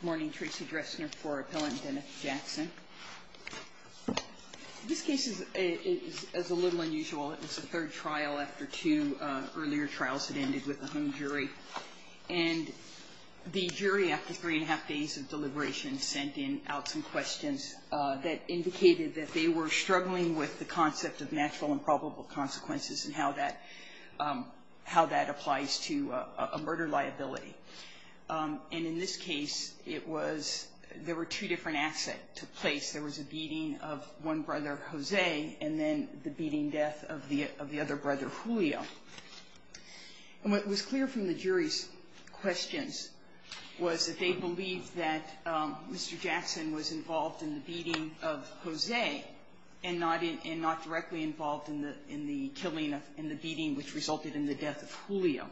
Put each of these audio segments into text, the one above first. Good morning. Tracy Dressner for Appellant Dennis Jackson. This case is a little unusual. It was the third trial after two earlier trials that ended with a home jury. And the jury, after three and a half days of deliberation, sent in out some questions that indicated that they were struggling with the concept of natural and probable consequences and how that applies to a murder liability. And in this case, it was – there were two different acts that took place. There was a beating of one brother, Jose, and then the beating death of the other brother, Julio. And what was clear from the jury's questions was that they believed that Mr. Jackson was involved in the beating of Jose and not in – and not directly involved in the – in the killing of – in the beating, which resulted in the death of Julio.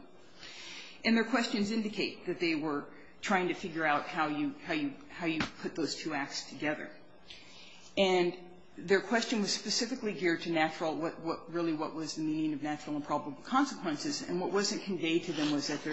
And their questions indicate that they were trying to figure out how you – how you put those two acts together. And their question was specifically geared to natural – what really was the meaning of natural and probable consequences. And what wasn't conveyed to them was that there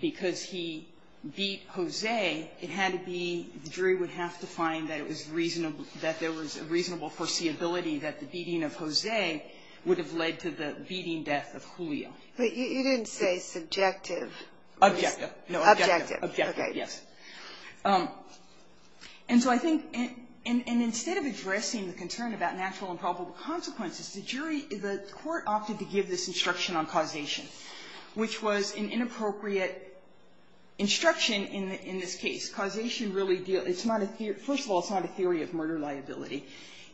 because he beat Jose, it had to be – the jury would have to find that it was reasonable – that there was a reasonable foreseeability that the beating of Jose would have led to the beating death of Julio. Ginsburg. But you didn't say subjective. Kagan. Objective. Ginsburg. Objective. Kagan. Objective, yes. And so I think – and instead of addressing the concern about natural and probable consequences, the jury – the court opted to give this instruction in this case. Causation really – it's not a – first of all, it's not a theory of murder liability.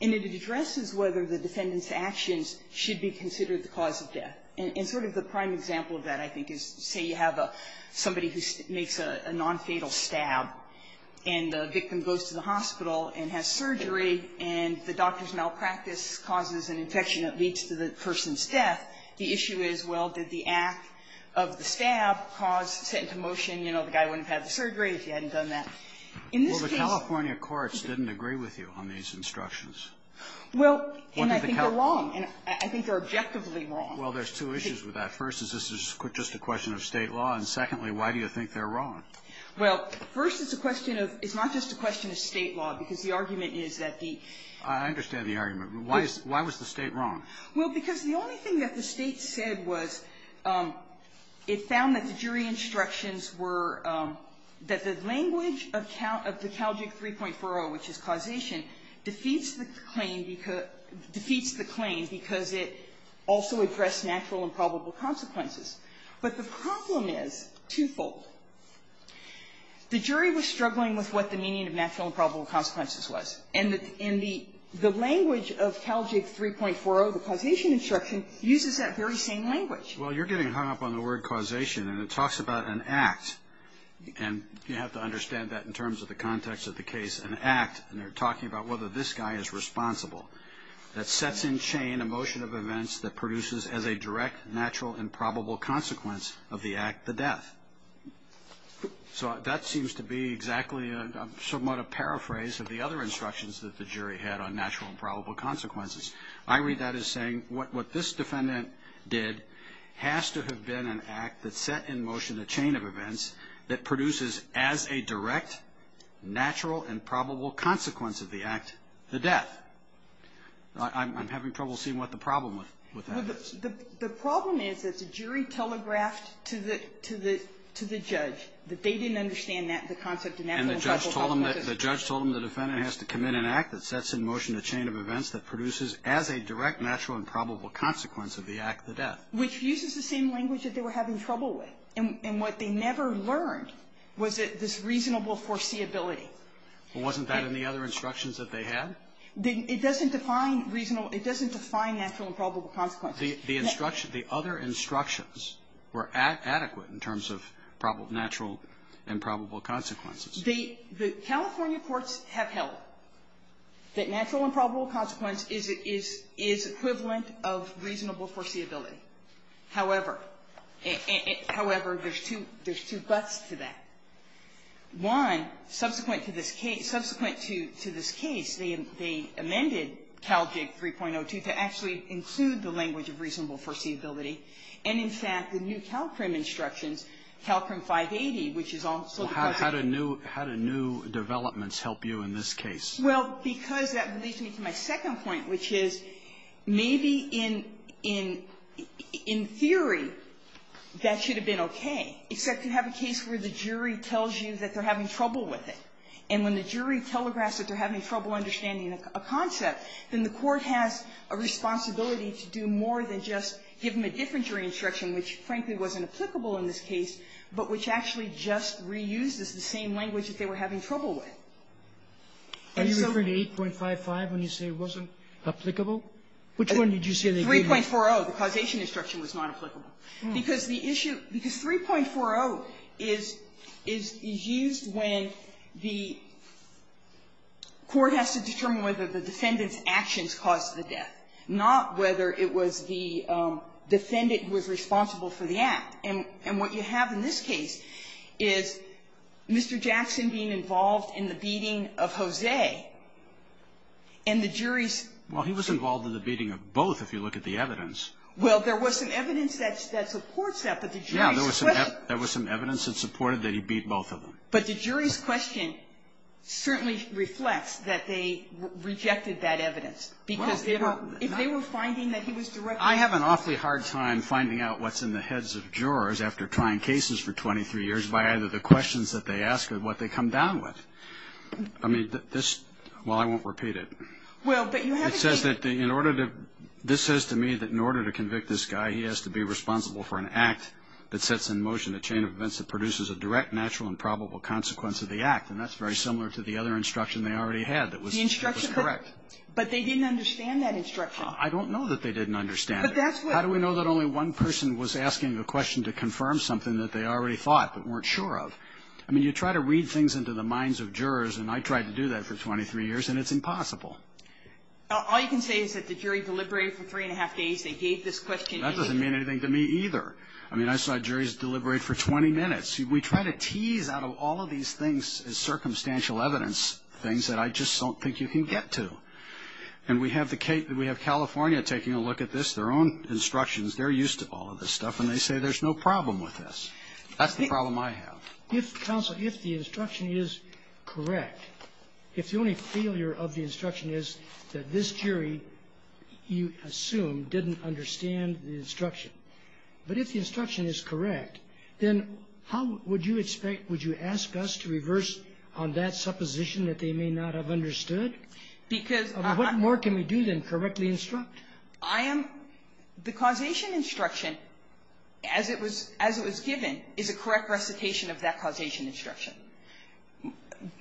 And it addresses whether the defendant's actions should be considered the cause of death. And sort of the prime example of that, I think, is say you have a – somebody who makes a nonfatal stab, and the victim goes to the hospital and has surgery, and the doctor's malpractice causes an infection that leads to the person's death. The issue is, well, did the act of the stab cause – set into motion, you know, the guy wouldn't have had the surgery if he hadn't done that. In this case – Kagan. Well, the California courts didn't agree with you on these instructions. Kagan. Well – Kagan. And I think they're wrong. And I think they're objectively wrong. Kagan. Well, there's two issues with that. First, is this just a question of State law? And secondly, why do you think they're wrong? Kagan. Well, first, it's a question of – it's not just a question of State law, because the argument is that the – Kagan. I understand the argument. Why is – why was the State wrong? Kagan. Well, because the only thing that the State said was it found that the jury instructions were – that the language of the Caljug 3.40, which is causation, defeats the claim – defeats the claim because it also addressed natural and probable consequences. But the problem is twofold. The jury was struggling with what the meaning of natural and probable consequences was. And the language of Caljug 3.40, the causation instruction, uses that very same language. Well, you're getting hung up on the word causation, and it talks about an act. And you have to understand that in terms of the context of the case. An act, and they're talking about whether this guy is responsible. That sets in chain a motion of events that produces as a direct natural and probable consequence of the act the death. So that seems to be exactly somewhat a paraphrase of the other instructions that the jury had on natural and probable consequences. I read that as saying what this defendant did has to have been an act that set in motion a chain of events that produces as a direct natural and probable consequence of the act the death. I'm having trouble seeing what the problem with that is. The problem is that the jury telegraphed to the judge that they didn't understand the concept of natural and probable consequences. And the judge told them the defendant has to commit an act that sets in motion a chain of events that produces as a direct natural and probable consequence of the act the death. Which uses the same language that they were having trouble with. And what they never learned was this reasonable foreseeability. Well, wasn't that in the other instructions that they had? It doesn't define reasonable. It doesn't define natural and probable consequences. The instructions, the other instructions were adequate in terms of natural and probable consequences. The California courts have held that natural and probable consequence is equivalent of reasonable foreseeability. However, however, there's two, there's two buts to that. One, subsequent to this case, subsequent to this case, they amended CALJIG 3.02 to actually include the language of reasonable foreseeability. And, in fact, the new CALCRIM instructions, CALCRIM 580, which is also the part of the case. Well, how do new developments help you in this case? Well, because that leads me to my second point, which is maybe in theory that should have been okay, except you have a case where the jury tells you that they're having trouble with it. And when the jury telegraphs that they're having trouble understanding a concept, then the court has a responsibility to do more than just give them a different jury instruction, which, frankly, wasn't applicable in this case, but which actually just reuses the same language that they were having trouble with. And so we need to be careful. Are you referring to 8.55 when you say it wasn't applicable? Which one did you say they didn't use? 3.40, the causation instruction, was not applicable, because the issue – because 3.40 is used when the court has to determine whether the defendant's actions caused the death, not whether it was the defendant who was responsible for the act. And what you have in this case is Mr. Jackson being involved in the beating of Jose, and the jury's – Well, there was some evidence that supports that, but the jury's question – Yeah. There was some evidence that supported that he beat both of them. But the jury's question certainly reflects that they rejected that evidence, because if they were finding that he was directly – Well, I have an awfully hard time finding out what's in the heads of jurors after trying cases for 23 years by either the questions that they ask or what they come down with. I mean, this – well, I won't repeat it. Well, but you have a case – It says that the – in order to – this says to me that in order to convict this guy, he has to be responsible for an act that sets in motion a chain of events that produces a direct, natural, and probable consequence of the act. And that's very similar to the other instruction they already had that was correct. The instruction – but they didn't understand that instruction. I don't know that they didn't understand it. But that's what – How do we know that only one person was asking a question to confirm something that they already thought but weren't sure of? I mean, you try to read things into the minds of jurors, and I tried to do that for 23 years, and it's impossible. Now, all you can say is that the jury deliberated for three and a half days. They gave this question. That doesn't mean anything to me, either. I mean, I saw juries deliberate for 20 minutes. We try to tease out of all of these things as circumstantial evidence things that I just don't think you can get to. And we have the – we have California taking a look at this, their own instructions. They're used to all of this stuff, and they say there's no problem with this. That's the problem I have. If, counsel, if the instruction is correct, if the only failure of the instruction is that this jury, you assume, didn't understand the instruction, but if the instruction is correct, then how would you expect – would you ask us to reverse on that supposition that they may not have understood? Because I'm – What more can we do than correctly instruct? I am – the causation instruction, as it was – as it was given, is a correct recitation of that causation instruction.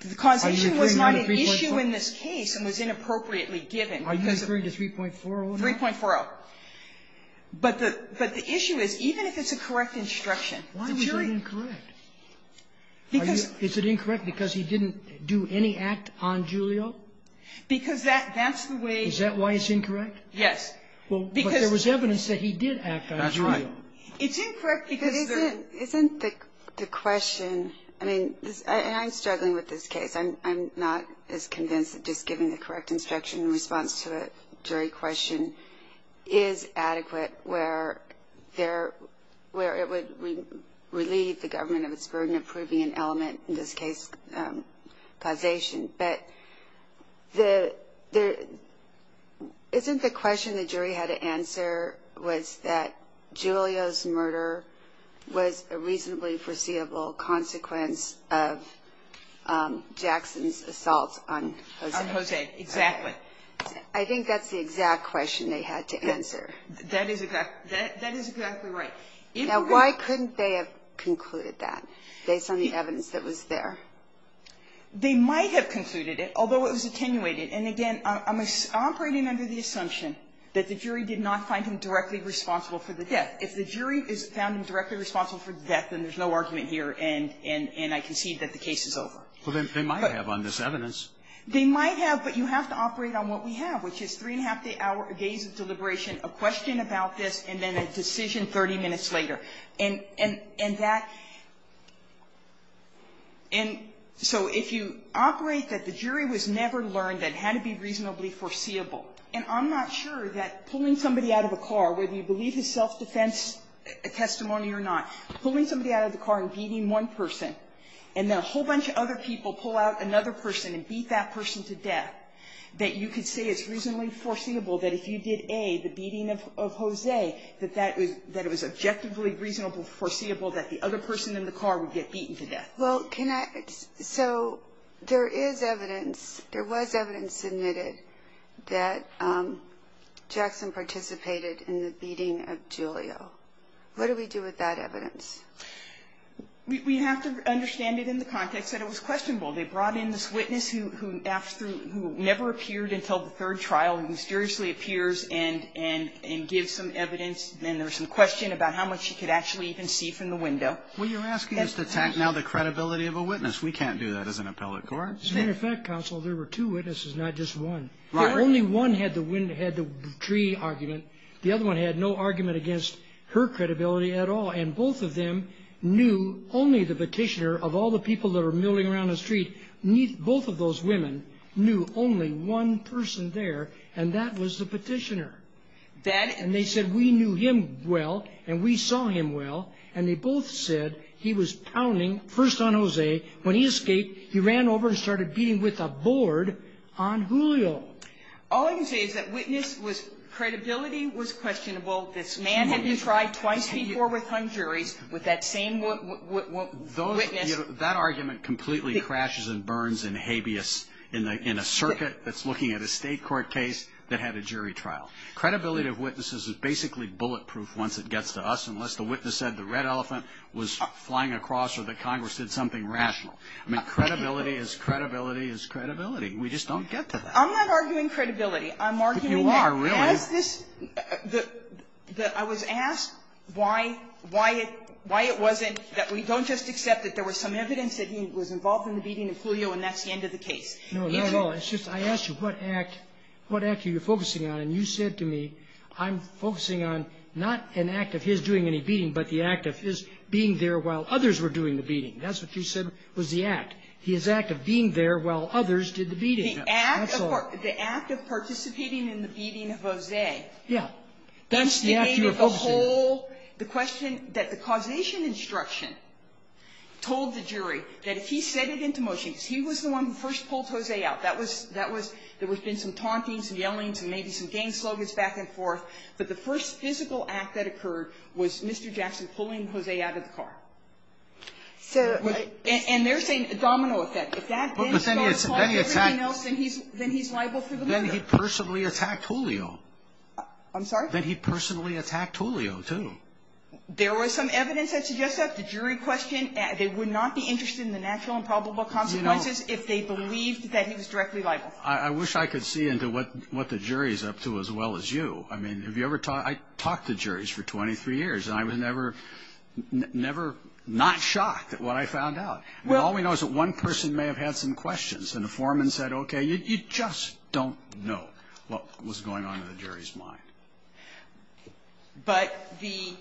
The causation was not an issue in this case and was inappropriately given. Are you agreeing to 3.40? 3.40. But the – but the issue is even if it's a correct instruction, the jury – Why was it incorrect? Because – Is it incorrect because he didn't do any act on Giulio? Because that – that's the way – Is that why it's incorrect? Yes. Because – Well, but there was evidence that he did act on Giulio. That's right. It's incorrect because then – Isn't – isn't the question – I mean, I'm struggling with this case. I'm not as convinced that just giving the correct instruction in response to a jury question is adequate where there – where it would relieve the government of its burden of proving an element, in this case, causation. But the – isn't the question the jury had to answer was that Giulio's murder was a I think that's the exact question they had to answer. That is exactly – that is exactly right. Now, why couldn't they have concluded that based on the evidence that was there? They might have concluded it, although it was attenuated. And again, I'm operating under the assumption that the jury did not find him directly responsible for the death. If the jury found him directly responsible for the death, then there's no argument here, and I concede that the case is over. But they might have on this evidence. They might have, but you have to operate on what we have, which is three and a half days of deliberation, a question about this, and then a decision 30 minutes later. And that – and so if you operate that the jury was never learned, that it had to be reasonably foreseeable, and I'm not sure that pulling somebody out of a car, whether you believe his self-defense testimony or not, pulling somebody out of the car and beating one person, and then a whole bunch of other people pull out another person and beat that person to death, that you could say it's reasonably foreseeable that if you did, A, the beating of Jose, that that was – that it was objectively reasonable, foreseeable that the other person in the car would get beaten to death. Well, can I – so there is evidence – there was evidence submitted that Jackson participated in the beating of Julio. What do we do with that evidence? We have to understand it in the context that it was questionable. They brought in this witness who after – who never appeared until the third trial and mysteriously appears and gives some evidence, and there was some question about how much she could actually even see from the window. Well, you're asking us to attack now the credibility of a witness. We can't do that as an appellate court. As a matter of fact, counsel, there were two witnesses, not just one. Right. Only one had the tree argument. The other one had no argument against her credibility at all. And both of them knew only the petitioner of all the people that were milling around the street. Both of those women knew only one person there, and that was the petitioner. That – And they said, we knew him well, and we saw him well. And they both said he was pounding first on Jose. When he escaped, he ran over and started beating with a board on Julio. All I can say is that witness was – credibility was questionable. This man had been tried twice before with hung juries with that same witness. That argument completely crashes and burns in habeas in a circuit that's looking at a State court case that had a jury trial. Credibility of witnesses is basically bulletproof once it gets to us, unless the witness said the red elephant was flying across or that Congress did something rational. I mean, credibility is credibility is credibility. We just don't get to that. I'm not arguing credibility. I'm arguing that – But you are, really. Was this – I was asked why – why it – why it wasn't that we don't just accept that there was some evidence that he was involved in the beating of Julio and that's the end of the case. No, not at all. It's just I asked you what act – what act are you focusing on? And you said to me, I'm focusing on not an act of his doing any beating, but the act of his being there while others were doing the beating. That's what you said was the act. His act of being there while others did the beating. That's all. The act of participating in the beating of Jose. Yeah. That's the act you were focusing. That's the whole – the question that the causation instruction told the jury that if he said it into motion, because he was the one who first pulled Jose out. That was – that was – there would have been some taunting, some yelling, and maybe some gang slogans back and forth, but the first physical act that occurred was Mr. Jackson pulling Jose out of the car. So I – And there's a domino effect. If that – But then he attacked – Then he's liable for the domino. Then he personally attacked Julio. I'm sorry? Then he personally attacked Julio, too. There was some evidence that suggests that. The jury questioned. They would not be interested in the natural and probable consequences if they believed that he was directly liable. I wish I could see into what the jury is up to as well as you. I mean, have you ever – I talked to juries for 23 years, and I was never – never not shocked at what I found out. All we know is that one person may have had some questions, and the foreman said, okay, you just don't know what was going on in the jury's mind. But the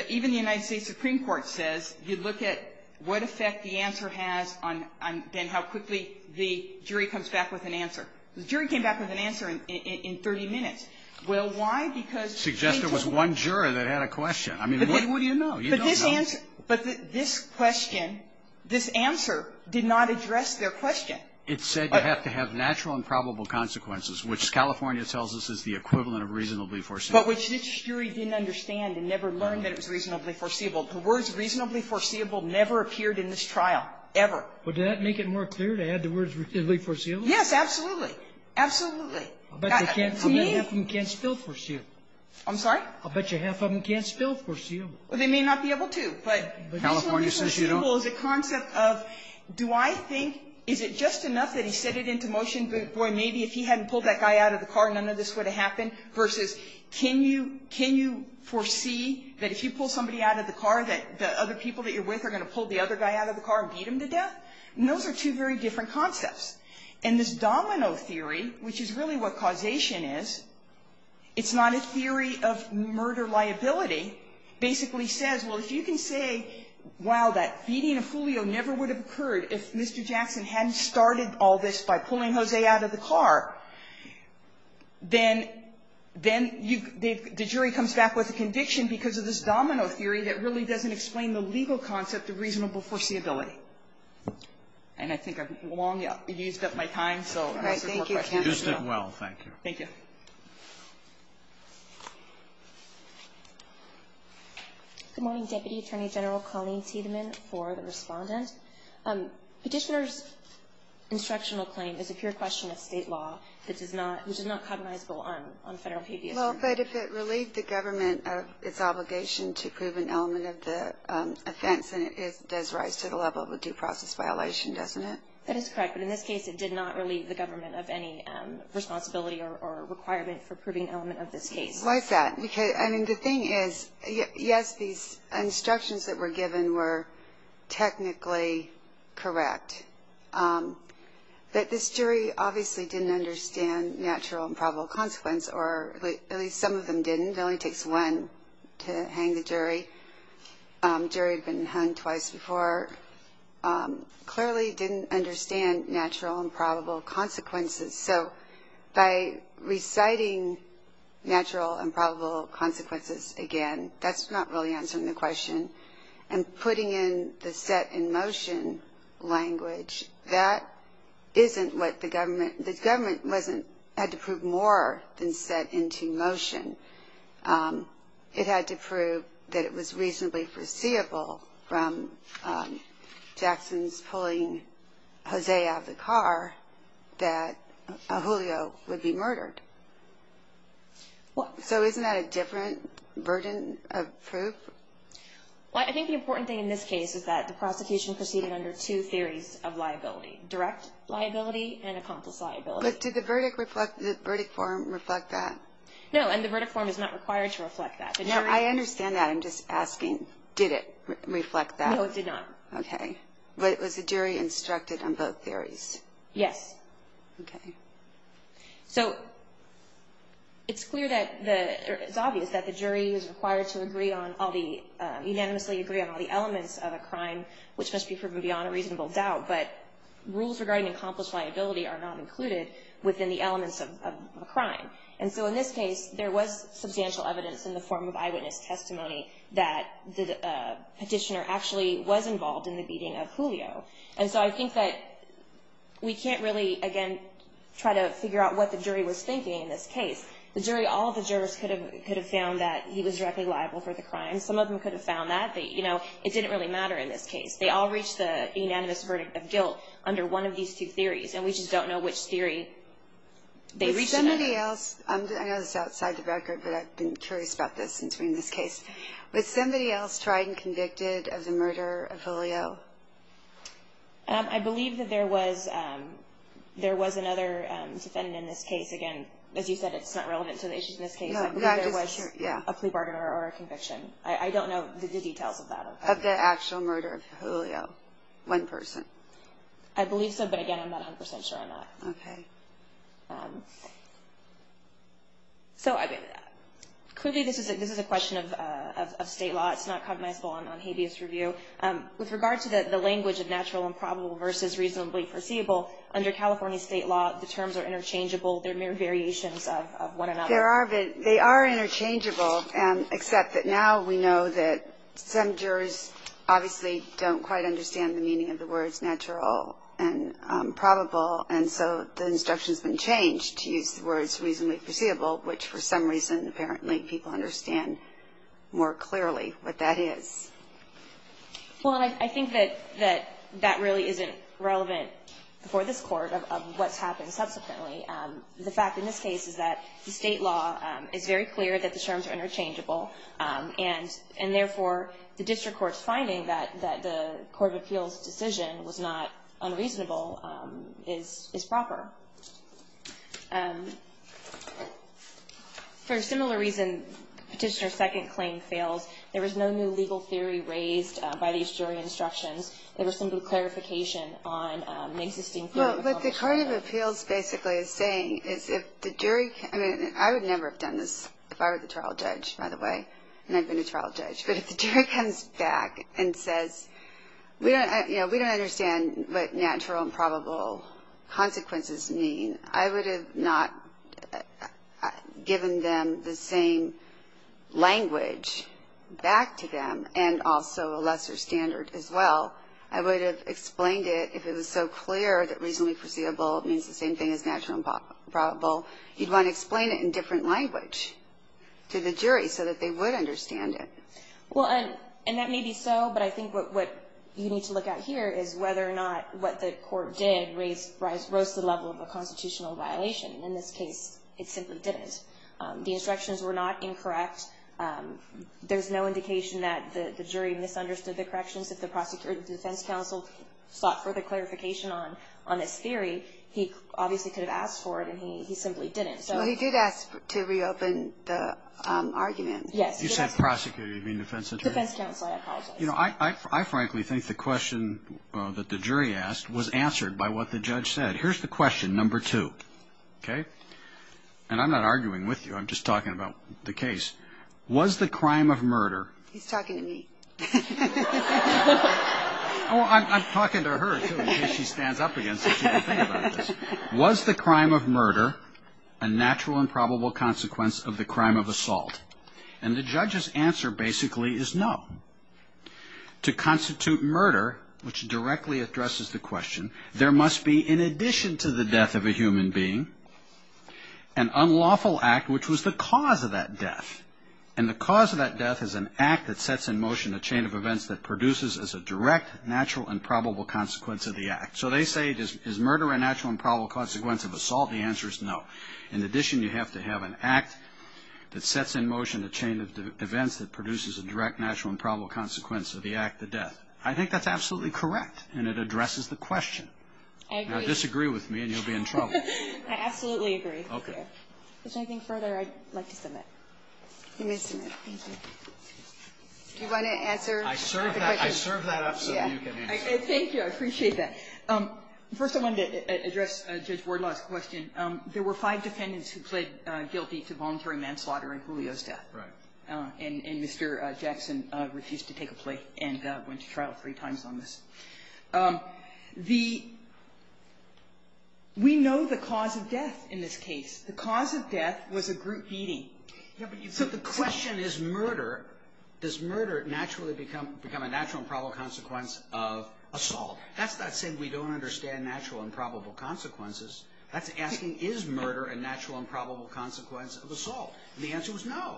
– even the United States Supreme Court says you look at what effect the answer has on then how quickly the jury comes back with an answer. The jury came back with an answer in 30 minutes. Well, why? Because they took the – Suggested it was one juror that had a question. I mean, what do you know? You don't know. But this answer – but this question, this answer did not address their question. It said you have to have natural and probable consequences, which California tells us is the equivalent of reasonably foreseeable. But which this jury didn't understand and never learned that it was reasonably foreseeable. The words reasonably foreseeable never appeared in this trial, ever. Would that make it more clear to add the words reasonably foreseeable? Yes, absolutely. Absolutely. To me – I'll bet you half of them can't spell foreseeable. I'm sorry? I'll bet you half of them can't spell foreseeable. Well, they may not be able to, but reasonably foreseeable is a concept of do I think – is it just enough that he said it into motion, boy, maybe if he hadn't pulled that guy out of the car, none of this would have happened, versus can you – can you foresee that if you pull somebody out of the car that the other people that you're with are going to pull the other guy out of the car and beat him to death? And those are two very different concepts. And this domino theory, which is really what causation is, it's not a theory of say, wow, that beating a Julio never would have occurred if Mr. Jackson hadn't started all this by pulling Jose out of the car, then you – the jury comes back with a conviction because of this domino theory that really doesn't explain the legal concept of reasonable foreseeability. And I think I've long used up my time, so unless there's more questions. All right. Thank you. You used it well. Thank you. Thank you. Thank you. Good morning, Deputy Attorney General Colleen Seidman for the Respondent. Petitioner's instructional claim is a pure question of state law that does not – which is not cognizable on federal PBS. Well, but if it relieved the government of its obligation to prove an element of the offense, then it does rise to the level of a due process violation, doesn't it? That is correct. But in this case, it did not relieve the government of any responsibility or requirement for proving an element of this case. Why is that? Because, I mean, the thing is, yes, these instructions that were given were technically correct, but this jury obviously didn't understand natural and probable consequence or at least some of them didn't. It only takes one to hang the jury. The jury had been hung twice before. Clearly didn't understand natural and probable consequences. So by reciting natural and probable consequences again, that's not really answering the question. And putting in the set in motion language, that isn't what the government – the government wasn't – had to prove more than set into motion. It had to prove that it was reasonably foreseeable from Jackson's pulling Jose out of the car that Julio would be murdered. So isn't that a different burden of proof? Well, I think the important thing in this case is that the prosecution proceeded under two theories of liability, direct liability and accomplice liability. But did the verdict form reflect that? No, and the verdict form is not required to reflect that. Now, I understand that. I'm just asking, did it reflect that? No, it did not. Okay. But was the jury instructed on both theories? Yes. Okay. So it's clear that the – it's obvious that the jury is required to agree on all the – unanimously agree on all the elements of a crime, which must be proven beyond a reasonable doubt. But rules regarding accomplice liability are not included within the elements of a crime. And so in this case, there was substantial evidence in the form of eyewitness testimony that the petitioner actually was involved in the beating of Julio. And so I think that we can't really, again, try to figure out what the jury was thinking in this case. The jury – all of the jurors could have found that he was directly liable for the crime. Some of them could have found that. But, you know, it didn't really matter in this case. They all reached the unanimous verdict of guilt under one of these two theories. And we just don't know which theory they reached in that. Was somebody else – I know this is outside the record, but I've been curious about this since we're in this case. Was somebody else tried and convicted of the murder of Julio? I believe that there was another defendant in this case. Again, as you said, it's not relevant to the issues in this case. I believe there was a plea bargain or a conviction. I don't know the details of that. Of the actual murder of Julio, one person? I believe so. But, again, I'm not 100 percent sure on that. Okay. So, I mean, clearly this is a question of state law. It's not cognizable on habeas review. With regard to the language of natural and probable versus reasonably foreseeable, under California state law, the terms are interchangeable. They're mere variations of one another. They are interchangeable, except that now we know that some jurors obviously don't quite understand the meaning of the words natural and probable. And so the instruction has been changed to use the words reasonably foreseeable, which for some reason apparently people understand more clearly what that is. Well, and I think that that really isn't relevant for this court of what's happened subsequently. The fact in this case is that the state law is very clear that the terms are interchangeable, and, therefore, the district court's finding that the court of appeals' decision was not unreasonable is proper. For a similar reason, Petitioner's second claim fails. There was no new legal theory raised by these jury instructions. There was simply clarification on an existing theory. Well, what the court of appeals basically is saying is if the jury can ‑‑ and I've been a trial judge. But if the jury comes back and says, you know, we don't understand what natural and probable consequences mean, I would have not given them the same language back to them and also a lesser standard as well. I would have explained it if it was so clear that reasonably foreseeable means the same thing as natural and probable. You'd want to explain it in different language to the jury so that they would understand it. Well, and that may be so, but I think what you need to look at here is whether or not what the court did raised the level of a constitutional violation. In this case, it simply didn't. The instructions were not incorrect. There's no indication that the jury misunderstood the corrections. If the defense counsel sought further clarification on this theory, he obviously could have asked for it, and he simply didn't. So he did ask to reopen the argument. Yes. You said prosecutor. You mean defense attorney? Defense counsel, I apologize. You know, I frankly think the question that the jury asked was answered by what the judge said. Here's the question, number two, okay? And I'm not arguing with you. I'm just talking about the case. Was the crime of murder ‑‑ He's talking to me. I'm talking to her, too, in case she stands up again so she can think about this. Was the crime of murder a natural and probable consequence of the crime of assault? And the judge's answer basically is no. To constitute murder, which directly addresses the question, there must be, in addition to the death of a human being, an unlawful act, which was the cause of that death. And the cause of that death is an act that sets in motion a chain of events that produces as a direct natural and probable consequence of the act. So they say, is murder a natural and probable consequence of assault? The answer is no. In addition, you have to have an act that sets in motion a chain of events that produces a direct natural and probable consequence of the act, the death. I think that's absolutely correct, and it addresses the question. I agree. Now, disagree with me and you'll be in trouble. I absolutely agree. Okay. If there's anything further, I'd like to submit. You may submit. Thank you. Do you want to answer the question? I served that up so that you can answer. Thank you. I appreciate that. First, I wanted to address Judge Wardlaw's question. There were five defendants who pled guilty to voluntary manslaughter in Julio's death. Right. And Mr. Jackson refused to take a plea and went to trial three times on this. We know the cause of death in this case. The cause of death was a group beating. So the question is murder. Does murder naturally become a natural and probable consequence of assault? That's not saying we don't understand natural and probable consequences. That's asking, is murder a natural and probable consequence of assault? And the answer was no.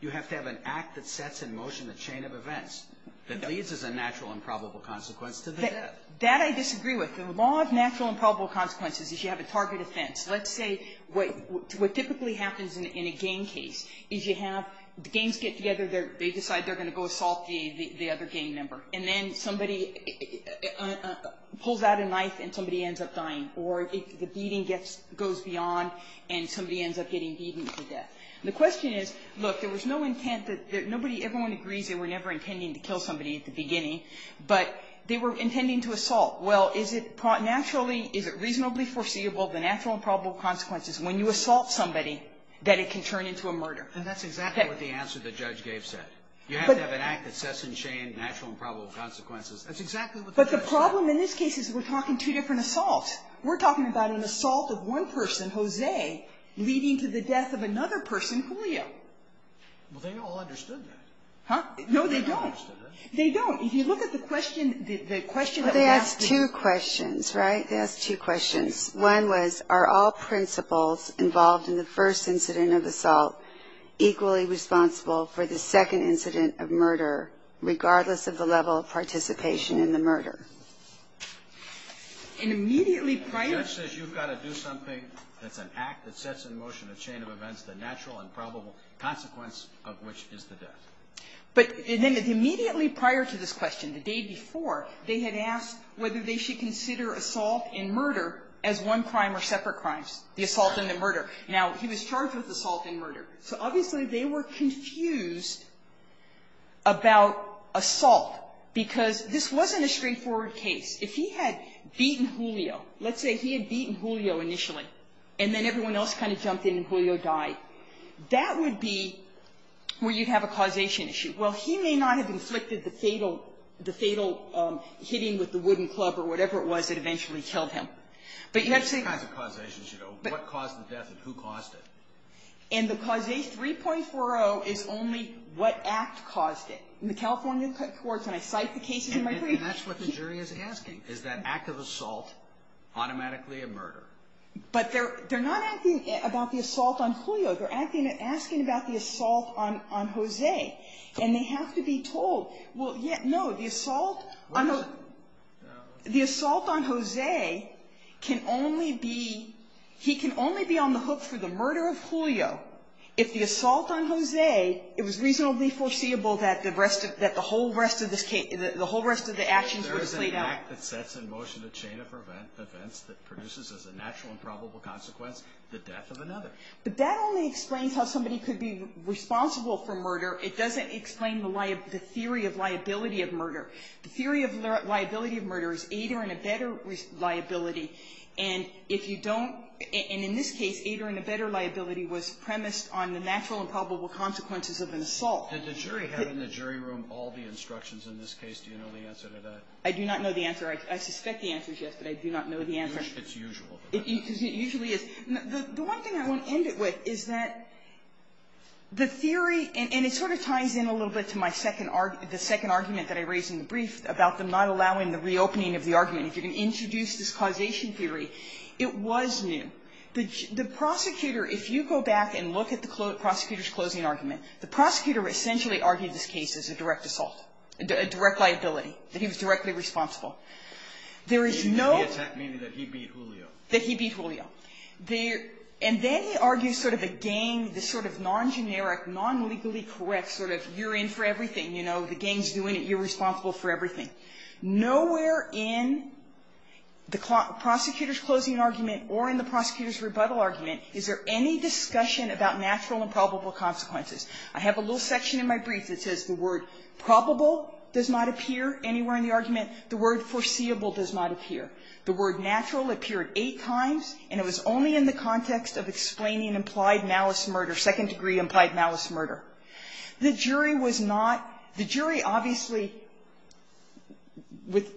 You have to have an act that sets in motion a chain of events that leads to a natural and probable consequence to the death. That I disagree with. The law of natural and probable consequences is you have a target offense. Let's say what typically happens in a gang case is you have the gangs get together. They decide they're going to go assault the other gang member. And then somebody pulls out a knife and somebody ends up dying. Or the beating goes beyond and somebody ends up getting beaten to death. The question is, look, there was no intent that nobody, everyone agrees they were never intending to kill somebody at the beginning. But they were intending to assault. Well, is it naturally, is it reasonably foreseeable, the natural and probable consequences when you assault somebody that it can turn into a murder? And that's exactly what the answer the judge gave said. You have to have an act that sets in chain natural and probable consequences. That's exactly what the judge said. But the problem in this case is we're talking two different assaults. We're talking about an assault of one person, Jose, leading to the death of another person, Julio. Well, they all understood that. Huh? No, they don't. They don't. If you look at the question, the question that was asked. They asked two questions. Right? They asked two questions. One was, are all principals involved in the first incident of assault equally responsible for the second incident of murder, regardless of the level of participation in the murder? An immediately prior. The judge says you've got to do something that's an act that sets in motion a natural and probable consequence of which is the death. But then immediately prior to this question, the day before, they had asked whether they should consider assault and murder as one crime or separate crimes, the assault and the murder. Now, he was charged with assault and murder. So obviously they were confused about assault because this wasn't a straightforward case. If he had beaten Julio, let's say he had beaten Julio initially, and then everyone else kind of jumped in and Julio died, that would be where you'd have a causation issue. Well, he may not have inflicted the fatal hitting with the wooden club or whatever it was that eventually killed him. But you have to say. There's all kinds of causations, you know. What caused the death and who caused it? And the causation 3.40 is only what act caused it. In the California courts, when I cite the cases in my brief. And that's what the jury is asking. Is that act of assault automatically a murder? But they're not asking about the assault on Julio. They're asking about the assault on Jose. And they have to be told. Well, no. The assault on Jose can only be, he can only be on the hook for the murder of Julio if the assault on Jose, it was reasonably foreseeable that the rest of, that the whole rest of the actions were played out. The fact that sets in motion a chain of events that produces as a natural and probable consequence the death of another. But that only explains how somebody could be responsible for murder. It doesn't explain the theory of liability of murder. The theory of liability of murder is aid or in a better liability. And if you don't, and in this case, aid or in a better liability was premised on the natural and probable consequences of an assault. Did the jury have in the jury room all the instructions in this case? Do you know the answer to that? I do not know the answer. I suspect the answer is yes, but I do not know the answer. It's usual. It usually is. The one thing I want to end it with is that the theory, and it sort of ties in a little bit to my second, the second argument that I raised in the brief about them not allowing the reopening of the argument, if you're going to introduce this causation theory, it was new. The prosecutor, if you go back and look at the prosecutor's closing argument, the prosecutor essentially argued this case as a direct assault, a direct liability, that he was directly responsible. There is no ---- Kennedy, that he beat Julio. That he beat Julio. And then he argues sort of a gang, this sort of non-generic, non-legally correct sort of you're in for everything, you know, the gang's doing it, you're responsible for everything. Nowhere in the prosecutor's closing argument or in the prosecutor's rebuttal argument is there any discussion about natural and probable consequences. I have a little section in my brief that says the word probable does not appear anywhere in the argument, the word foreseeable does not appear. The word natural appeared eight times, and it was only in the context of explaining implied malice murder, second-degree implied malice murder. The jury was not ---- the jury obviously, with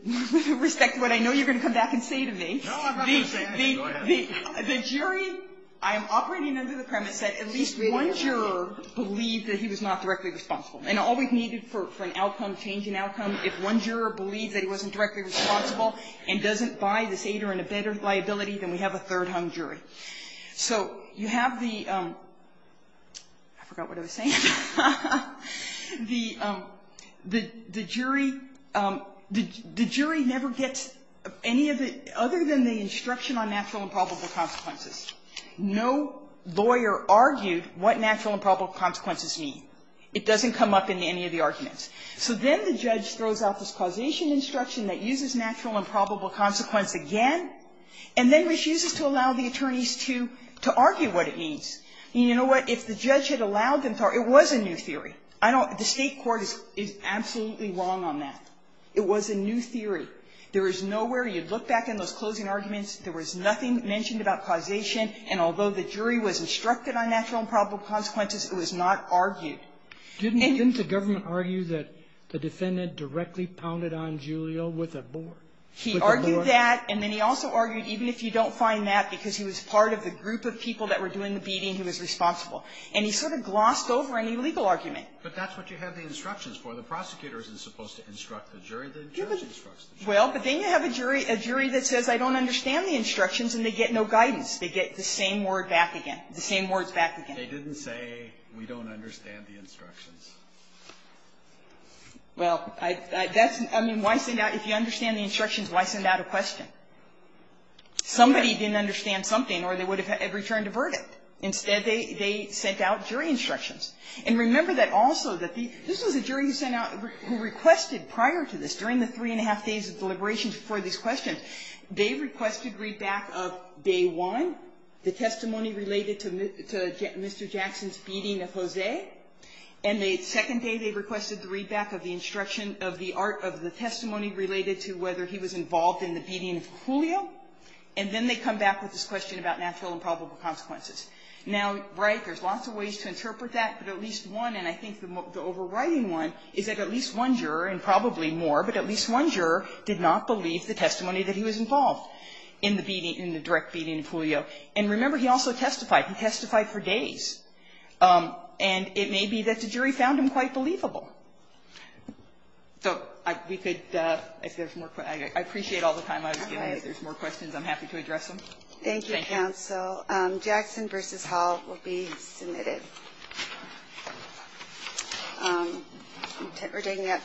respect to what I know you're going to come back and say to me, the jury, I am operating under the premise that at least one juror believed that he was not directly responsible. And all we've needed for an outcome, change in outcome, if one juror believed that he wasn't directly responsible and doesn't buy this aid or in a better liability, then we have a third-hung jury. So you have the ---- I forgot what I was saying. The jury never gets any of the ---- other than the instruction on natural and probable consequences. No lawyer argued what natural and probable consequences mean. It doesn't come up in any of the arguments. So then the judge throws out this causation instruction that uses natural and probable consequences again, and then refuses to allow the attorneys to argue what it means. And you know what? If the judge had allowed them to argue, it was a new theory. I don't ---- the State court is absolutely wrong on that. It was a new theory. There is nowhere you'd look back in those closing arguments, there was nothing mentioned about causation, and although the jury was instructed on natural and probable consequences, it was not argued. Didn't the government argue that the defendant directly pounded on Julio with a board? He argued that, and then he also argued even if you don't find that because he was part of the group of people that were doing the beating, he was responsible. And he sort of glossed over any legal argument. But that's what you have the instructions for. The prosecutor isn't supposed to instruct the jury. The judge instructs the jury. Well, but then you have a jury that says I don't understand the instructions, and they get no guidance. They get the same word back again. The same words back again. They didn't say we don't understand the instructions. Well, that's ---- I mean, why send out ---- if you understand the instructions, why send out a question? Somebody didn't understand something or they would have returned a verdict. Instead, they sent out jury instructions. And remember that also that the ---- this was a jury who sent out ---- who requested prior to this, during the three and a half days of deliberations before these questions, they requested readback of day one, the testimony related to Mr. Jackson's beating of Jose. And the second day, they requested the readback of the instruction of the art of the testimony related to whether he was involved in the beating of Julio. And then they come back with this question about natural and probable consequences. Now, right, there's lots of ways to interpret that, but at least one, and I think the overriding one, is that at least one juror, and probably more, but at least one juror did not believe the testimony that he was involved in the beating, in the direct beating of Julio. And remember, he also testified. He testified for days. And it may be that the jury found him quite believable. So we could, if there's more questions, I appreciate all the time I was given. If there's more questions, I'm happy to address them. Thank you, counsel. Jackson v. Hall will be submitted. We're taking it.